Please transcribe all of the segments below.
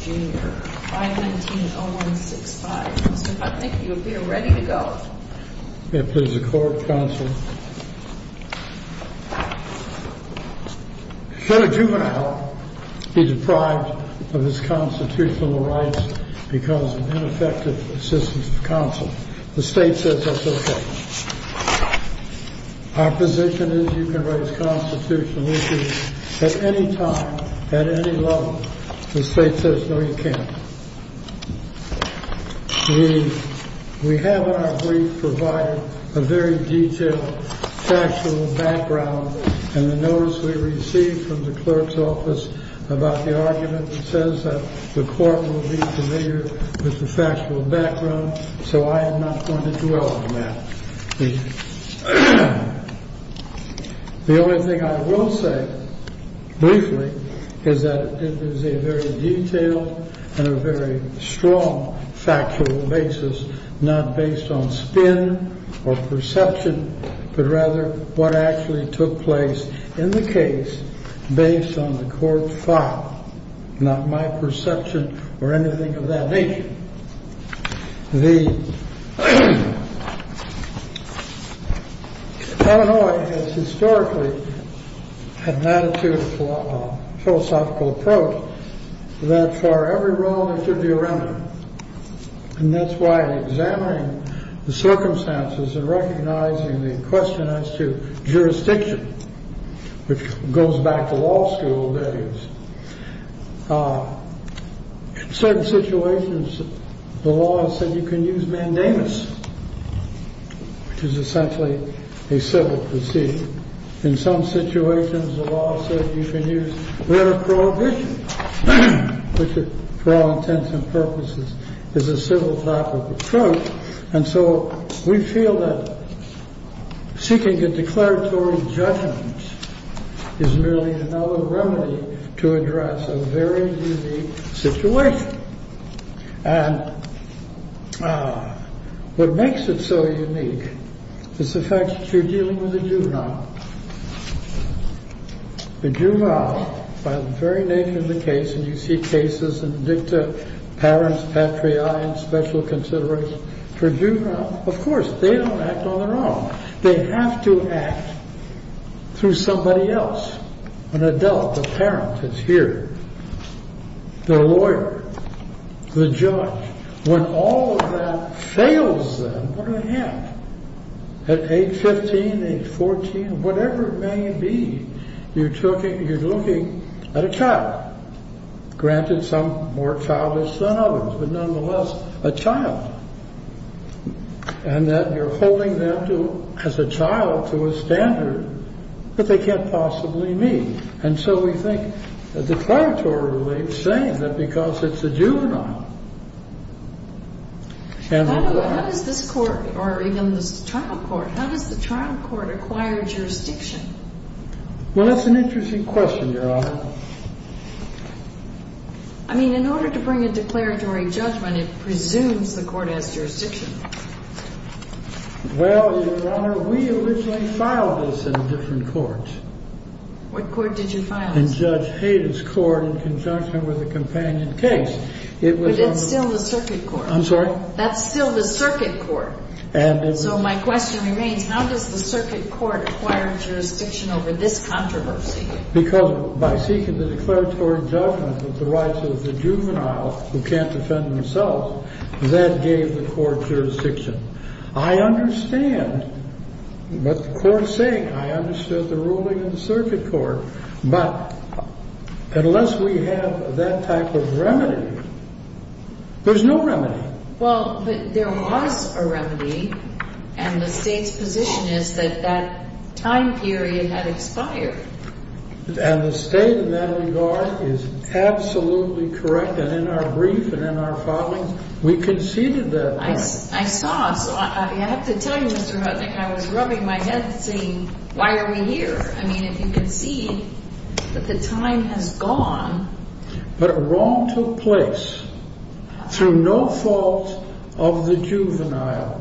Jr., 519-0165. Mr. Putnam, thank you. We are ready to go. May it please the Court, Counsel. Should a juvenile be deprived of his constitutional rights because of ineffective assistance of counsel, the State says that's okay. Our position is you can raise constitutional issues at any time, at any level. The State says no, you can't. We have in our brief provided a very detailed factual background and the notice we received from the clerk's office about the argument that says that the Court will be familiar with the factual background, so I am not going to dwell on that. The only thing I will say briefly is that it is a very detailed and a very strong factual basis, not based on spin or perception, but rather what actually took place in the case based on the Court's thought, not my perception or anything of that nature. The Illinois has historically had an attitude of philosophical approach that for every wrong there should be a remedy. And that's why examining the circumstances and recognizing the question as to jurisdiction, which goes back to law school values. In certain situations, the law has said you can use mandamus, which is essentially a civil procedure. In some situations, the law says you can use letter of prohibition, which for all intents and purposes is a civil type of approach. And so we feel that seeking a declaratory judgment is merely another remedy to address a very unique situation. And what makes it so unique is the fact that you're dealing with a juvenile. The juvenile, by the very name of the case, and you see cases in dicta, parents, patriae, and special consideration. For a juvenile, of course, they don't act on their own. They have to act through somebody else, an adult, a parent that's here, their lawyer, the judge. When all of that fails them, what do they have? At age 15, age 14, whatever it may be, you're looking at a child. Granted, some more childish than others, but nonetheless a child. And that you're holding them as a child to a standard that they can't possibly meet. And so we think a declaratory relief's saying that because it's a juvenile. How does this court, or even this trial court, how does the trial court acquire jurisdiction? Well, that's an interesting question, Your Honor. I mean, in order to bring a declaratory judgment, it presumes the court has jurisdiction. Well, Your Honor, we originally filed this in different courts. What court did you file this in? In Judge Hayden's court in conjunction with a companion case. But it's still the circuit court. I'm sorry? That's still the circuit court. So my question remains, how does the circuit court acquire jurisdiction over this controversy? Because by seeking the declaratory judgment with the rights of the juvenile who can't defend themselves, that gave the court jurisdiction. I understand what the court is saying. I understood the ruling in the circuit court. But unless we have that type of remedy, there's no remedy. Well, but there was a remedy. And the State's position is that that time period had expired. And the State in that regard is absolutely correct. And in our brief and in our filings, we conceded that point. I saw it. I have to tell you, Mr. Hutnick, I was rubbing my head saying, why are we here? I mean, if you can see that the time has gone. But a wrong took place through no fault of the juvenile.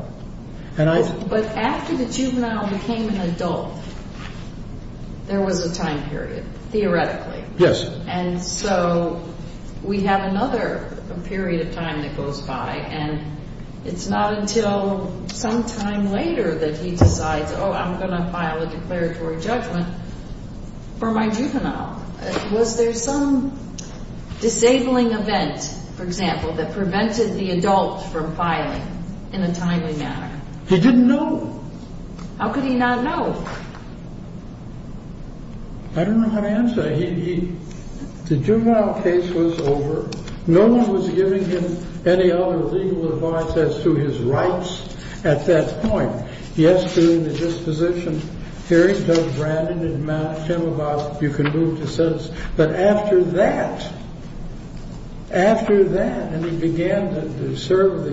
But after the juvenile became an adult, there was a time period, theoretically. Yes. And so we have another period of time that goes by. And it's not until some time later that he decides, oh, I'm going to file a declaratory judgment for my juvenile. Was there some disabling event, for example, that prevented the adult from filing in a timely manner? He didn't know. How could he not know? I don't know how to answer that. The juvenile case was over. No one was giving him any other legal advice as to his rights at that point. Yes, during the disposition hearings, Judge Brandon had matched him about if you can move to sentence. But after that, after that, and he began to serve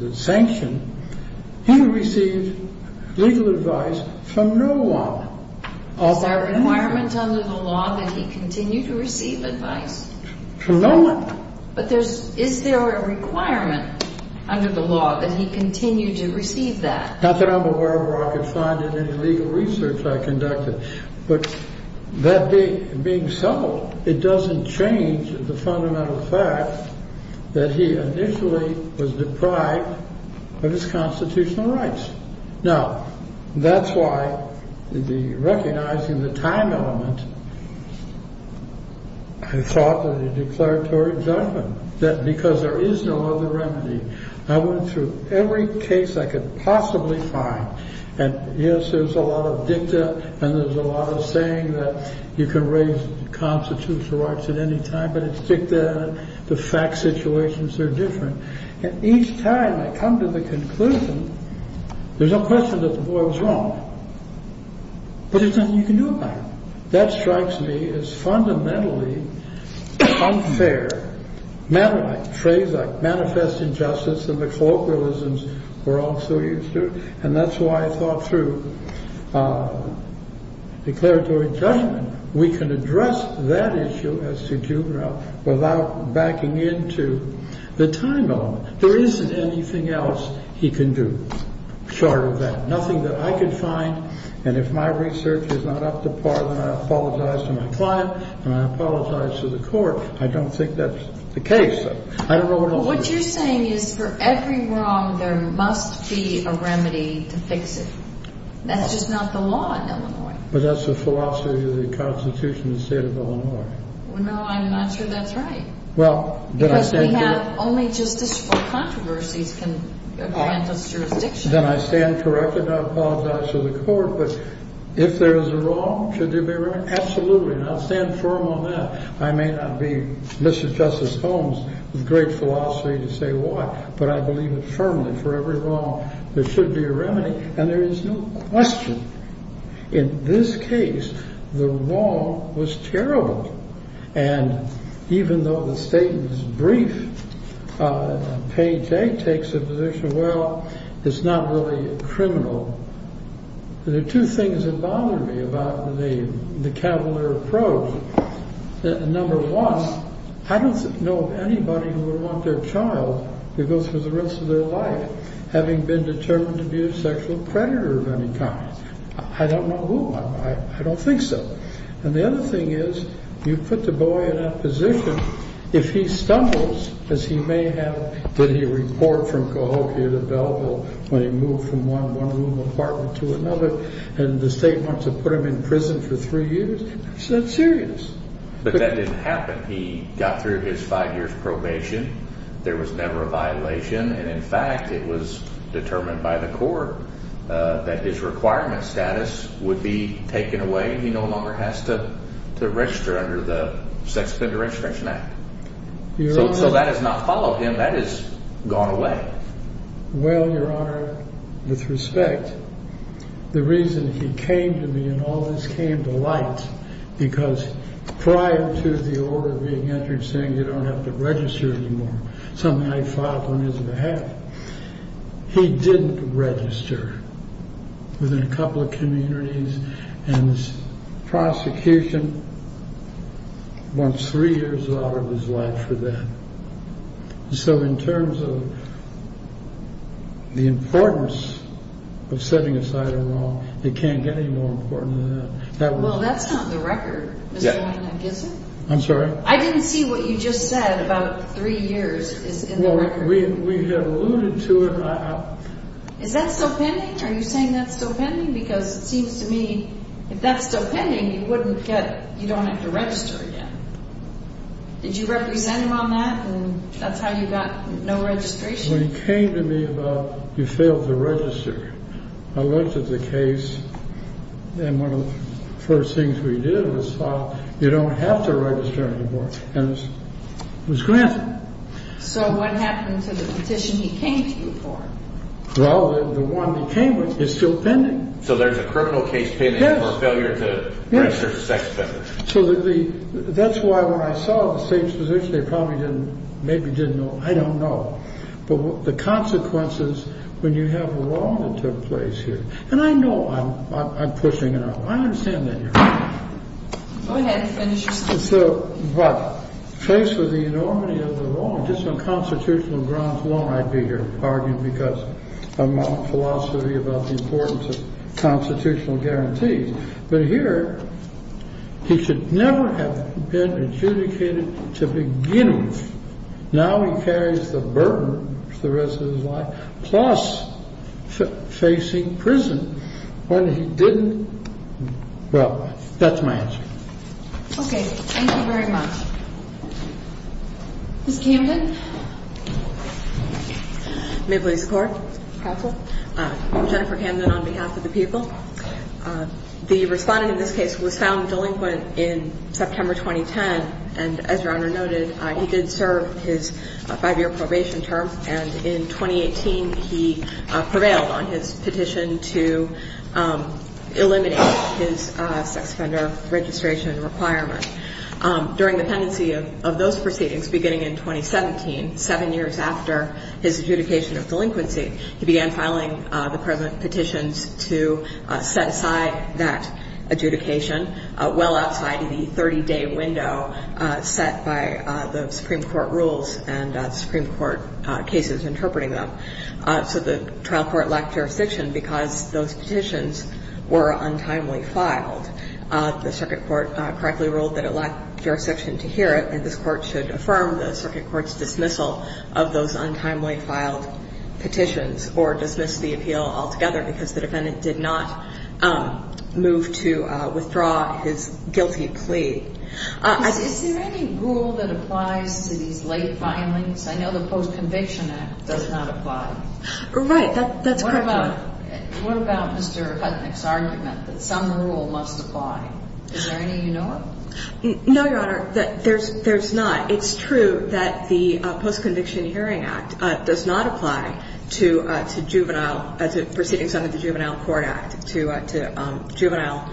the sanction, he received legal advice from no one. Is there a requirement under the law that he continue to receive advice? From no one. But is there a requirement under the law that he continue to receive that? Not that I'm aware of or I could find in any legal research I conducted. But that being settled, it doesn't change the fundamental fact that he initially was deprived of his constitutional rights. Now, that's why recognizing the time element, I thought that a declaratory judgment, that because there is no other remedy. I went through every case I could possibly find. And yes, there's a lot of dicta and there's a lot of saying that you can raise constitutional rights at any time, but it's dicta. The fact situations are different. And each time I come to the conclusion, there's no question that the boy was wrong. But there's nothing you can do about it. That strikes me as fundamentally unfair, matter of fact, phrase like manifest injustice and the colloquialisms we're all so used to. And that's why I thought through declaratory judgment. We can address that issue as to juvenile without backing into the time element. There isn't anything else he can do short of that, nothing that I could find. And if my research is not up to par, then I apologize to my client and I apologize to the court. I don't think that's the case. I don't know. What you're saying is for every wrong, there must be a remedy to fix it. That's just not the law in Illinois. But that's the philosophy of the Constitution, the state of Illinois. Well, no, I'm not sure that's right. Well, because we have only justicial controversies can grant us jurisdiction. Then I stand corrected. I apologize to the court. But if there is a wrong, should there be a remedy? Absolutely. And I'll stand firm on that. I may not be Mr. Justice Holmes with great philosophy to say why, but I believe it firmly. For every wrong, there should be a remedy. And there is no question. In this case, the wrong was terrible. And even though the statement is brief, Page A takes a position, well, it's not really criminal. There are two things that bother me about the Cavalier approach. Number one, I don't know of anybody who would want their child to go through the rest of their life having been determined to be a sexual predator of any kind. I don't know who. I don't think so. And the other thing is you put the boy in that position. If he stumbles, as he may have, did he report from Cahokia to Belleville when he moved from one room apartment to another and the state wants to put him in prison for three years? Is that serious? But that didn't happen. He got through his five years probation. There was never a violation. And, in fact, it was determined by the court that his requirement status would be taken away. He no longer has to register under the Sex Offender Registration Act. So that has not followed him. That has gone away. Well, Your Honor, with respect, the reason he came to me and all this came to light, because prior to the order being entered saying you don't have to register anymore, something I filed on his behalf, he didn't register within a couple of communities. And the prosecution wants three years out of his life for that. So in terms of the importance of setting aside a wrong, it can't get any more important than that. Well, that's not the record. I'm sorry? I didn't see what you just said about three years is in the record. We had alluded to it. Is that still pending? Are you saying that's still pending? Because it seems to me if that's still pending, you don't have to register again. Did you represent him on that? And that's how you got no registration? When he came to me about you failed to register, I looked at the case, and one of the first things we did was file, you don't have to register anymore. And it was granted. So what happened to the petition he came to you for? Well, the one he came with is still pending. So there's a criminal case pending for failure to register for sex offender. So that's why when I saw the state's position, they probably didn't, maybe didn't know. I don't know. But the consequences when you have a wrong that took place here, and I know I'm pushing it out. I understand that. Go ahead and finish your sentence. So what? Faced with the enormity of the wrong, just on constitutional grounds alone, I'd be here arguing because of my philosophy about the importance of constitutional guarantees. But here, he should never have been adjudicated to begin with. Now he carries the burden for the rest of his life, plus facing prison when he didn't. Well, that's my answer. Okay. Thank you very much. Ms. Camden? May it please the Court? Counsel. I'm Jennifer Camden on behalf of the people. The respondent in this case was found delinquent in September 2010, and as Your Honor noted, he did serve his five-year probation term. And in 2018, he prevailed on his petition to eliminate his sex offender registration requirement. During the pendency of those proceedings beginning in 2017, seven years after his adjudication of delinquency, he began filing the present petitions to set aside that adjudication well outside the 30-day window set by the Supreme Court rules and Supreme Court cases interpreting them. So the trial court lacked jurisdiction because those petitions were untimely filed. The circuit court correctly ruled that it lacked jurisdiction to hear it, and this Court should affirm the circuit court's dismissal of those untimely filed petitions or dismiss the appeal altogether because the defendant did not move to withdraw his guilty plea. Is there any rule that applies to these late filings? I know the Post-Conviction Act does not apply. Right. That's correct. What about Mr. Hutnick's argument that some rule must apply? Is there any you know of? No, Your Honor. There's not. It's true that the Post-Conviction Hearing Act does not apply to juvenile, to proceedings under the Juvenile Court Act, to juvenile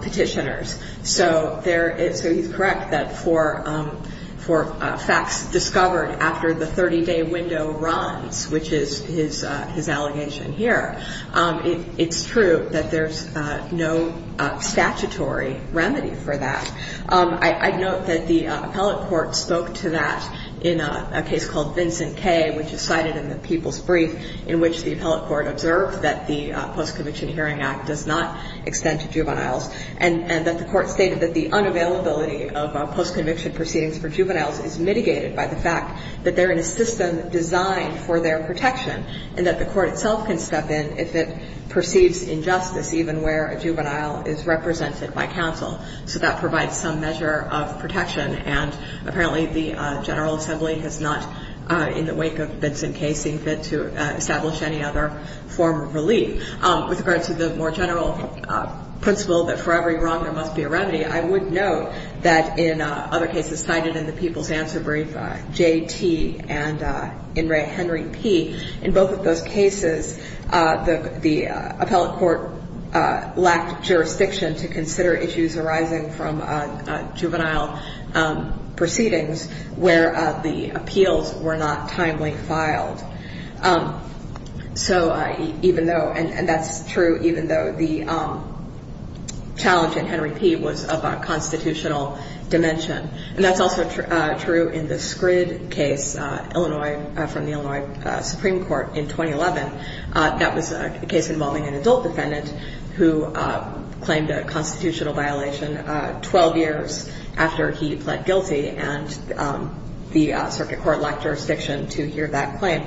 petitioners. So he's correct that for facts discovered after the 30-day window runs, which is his allegation here, it's true that there's no statutory remedy for that. I note that the appellate court spoke to that in a case called Vincent K., which is cited in the People's Brief, in which the appellate court observed that the Post-Conviction Hearing Act does not extend to juveniles and that the court stated that the unavailability of post-conviction proceedings for juveniles is mitigated by the fact that they're in a system designed for their protection and that the court itself can step in if it perceives injustice even where a juvenile is represented by counsel. So that provides some measure of protection. And apparently the General Assembly has not, in the wake of Vincent K., seen fit to establish any other form of relief. With regard to the more general principle that for every wrong there must be a remedy, I would note that in other cases cited in the People's Answer Brief, J.T. and Henry P., in both of those cases the appellate court lacked jurisdiction to consider issues arising from juvenile proceedings where the appeals were not timely filed. And that's true even though the challenge in Henry P. was of a constitutional dimension. And that's also true in the Scrid case, Illinois, from the Illinois Supreme Court in 2011. That was a case involving an adult defendant who claimed a constitutional violation 12 years after he pled guilty and the circuit court lacked jurisdiction to hear that claim.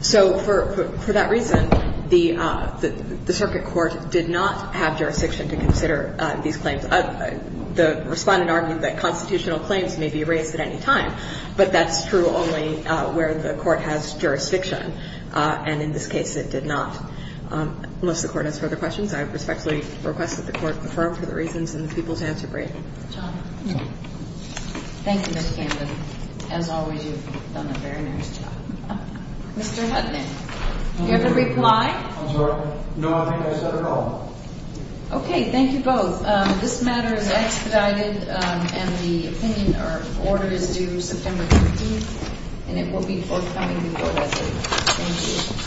So for that reason, the circuit court did not have jurisdiction to consider these claims. The Respondent argued that constitutional claims may be raised at any time, but that's true only where the court has jurisdiction. And in this case it did not. Unless the Court has further questions, I respectfully request that the Court confirm for the reasons in the People's Answer Brief. Thank you, Ms. Camden. As always, you've done a very nice job. Mr. Hudson, do you have a reply? I'm sorry. No, I think I said it all. Okay. Thank you both. This matter is expedited, and the opinion or order is due September 13th, and it will be forthcoming before that date. Thank you.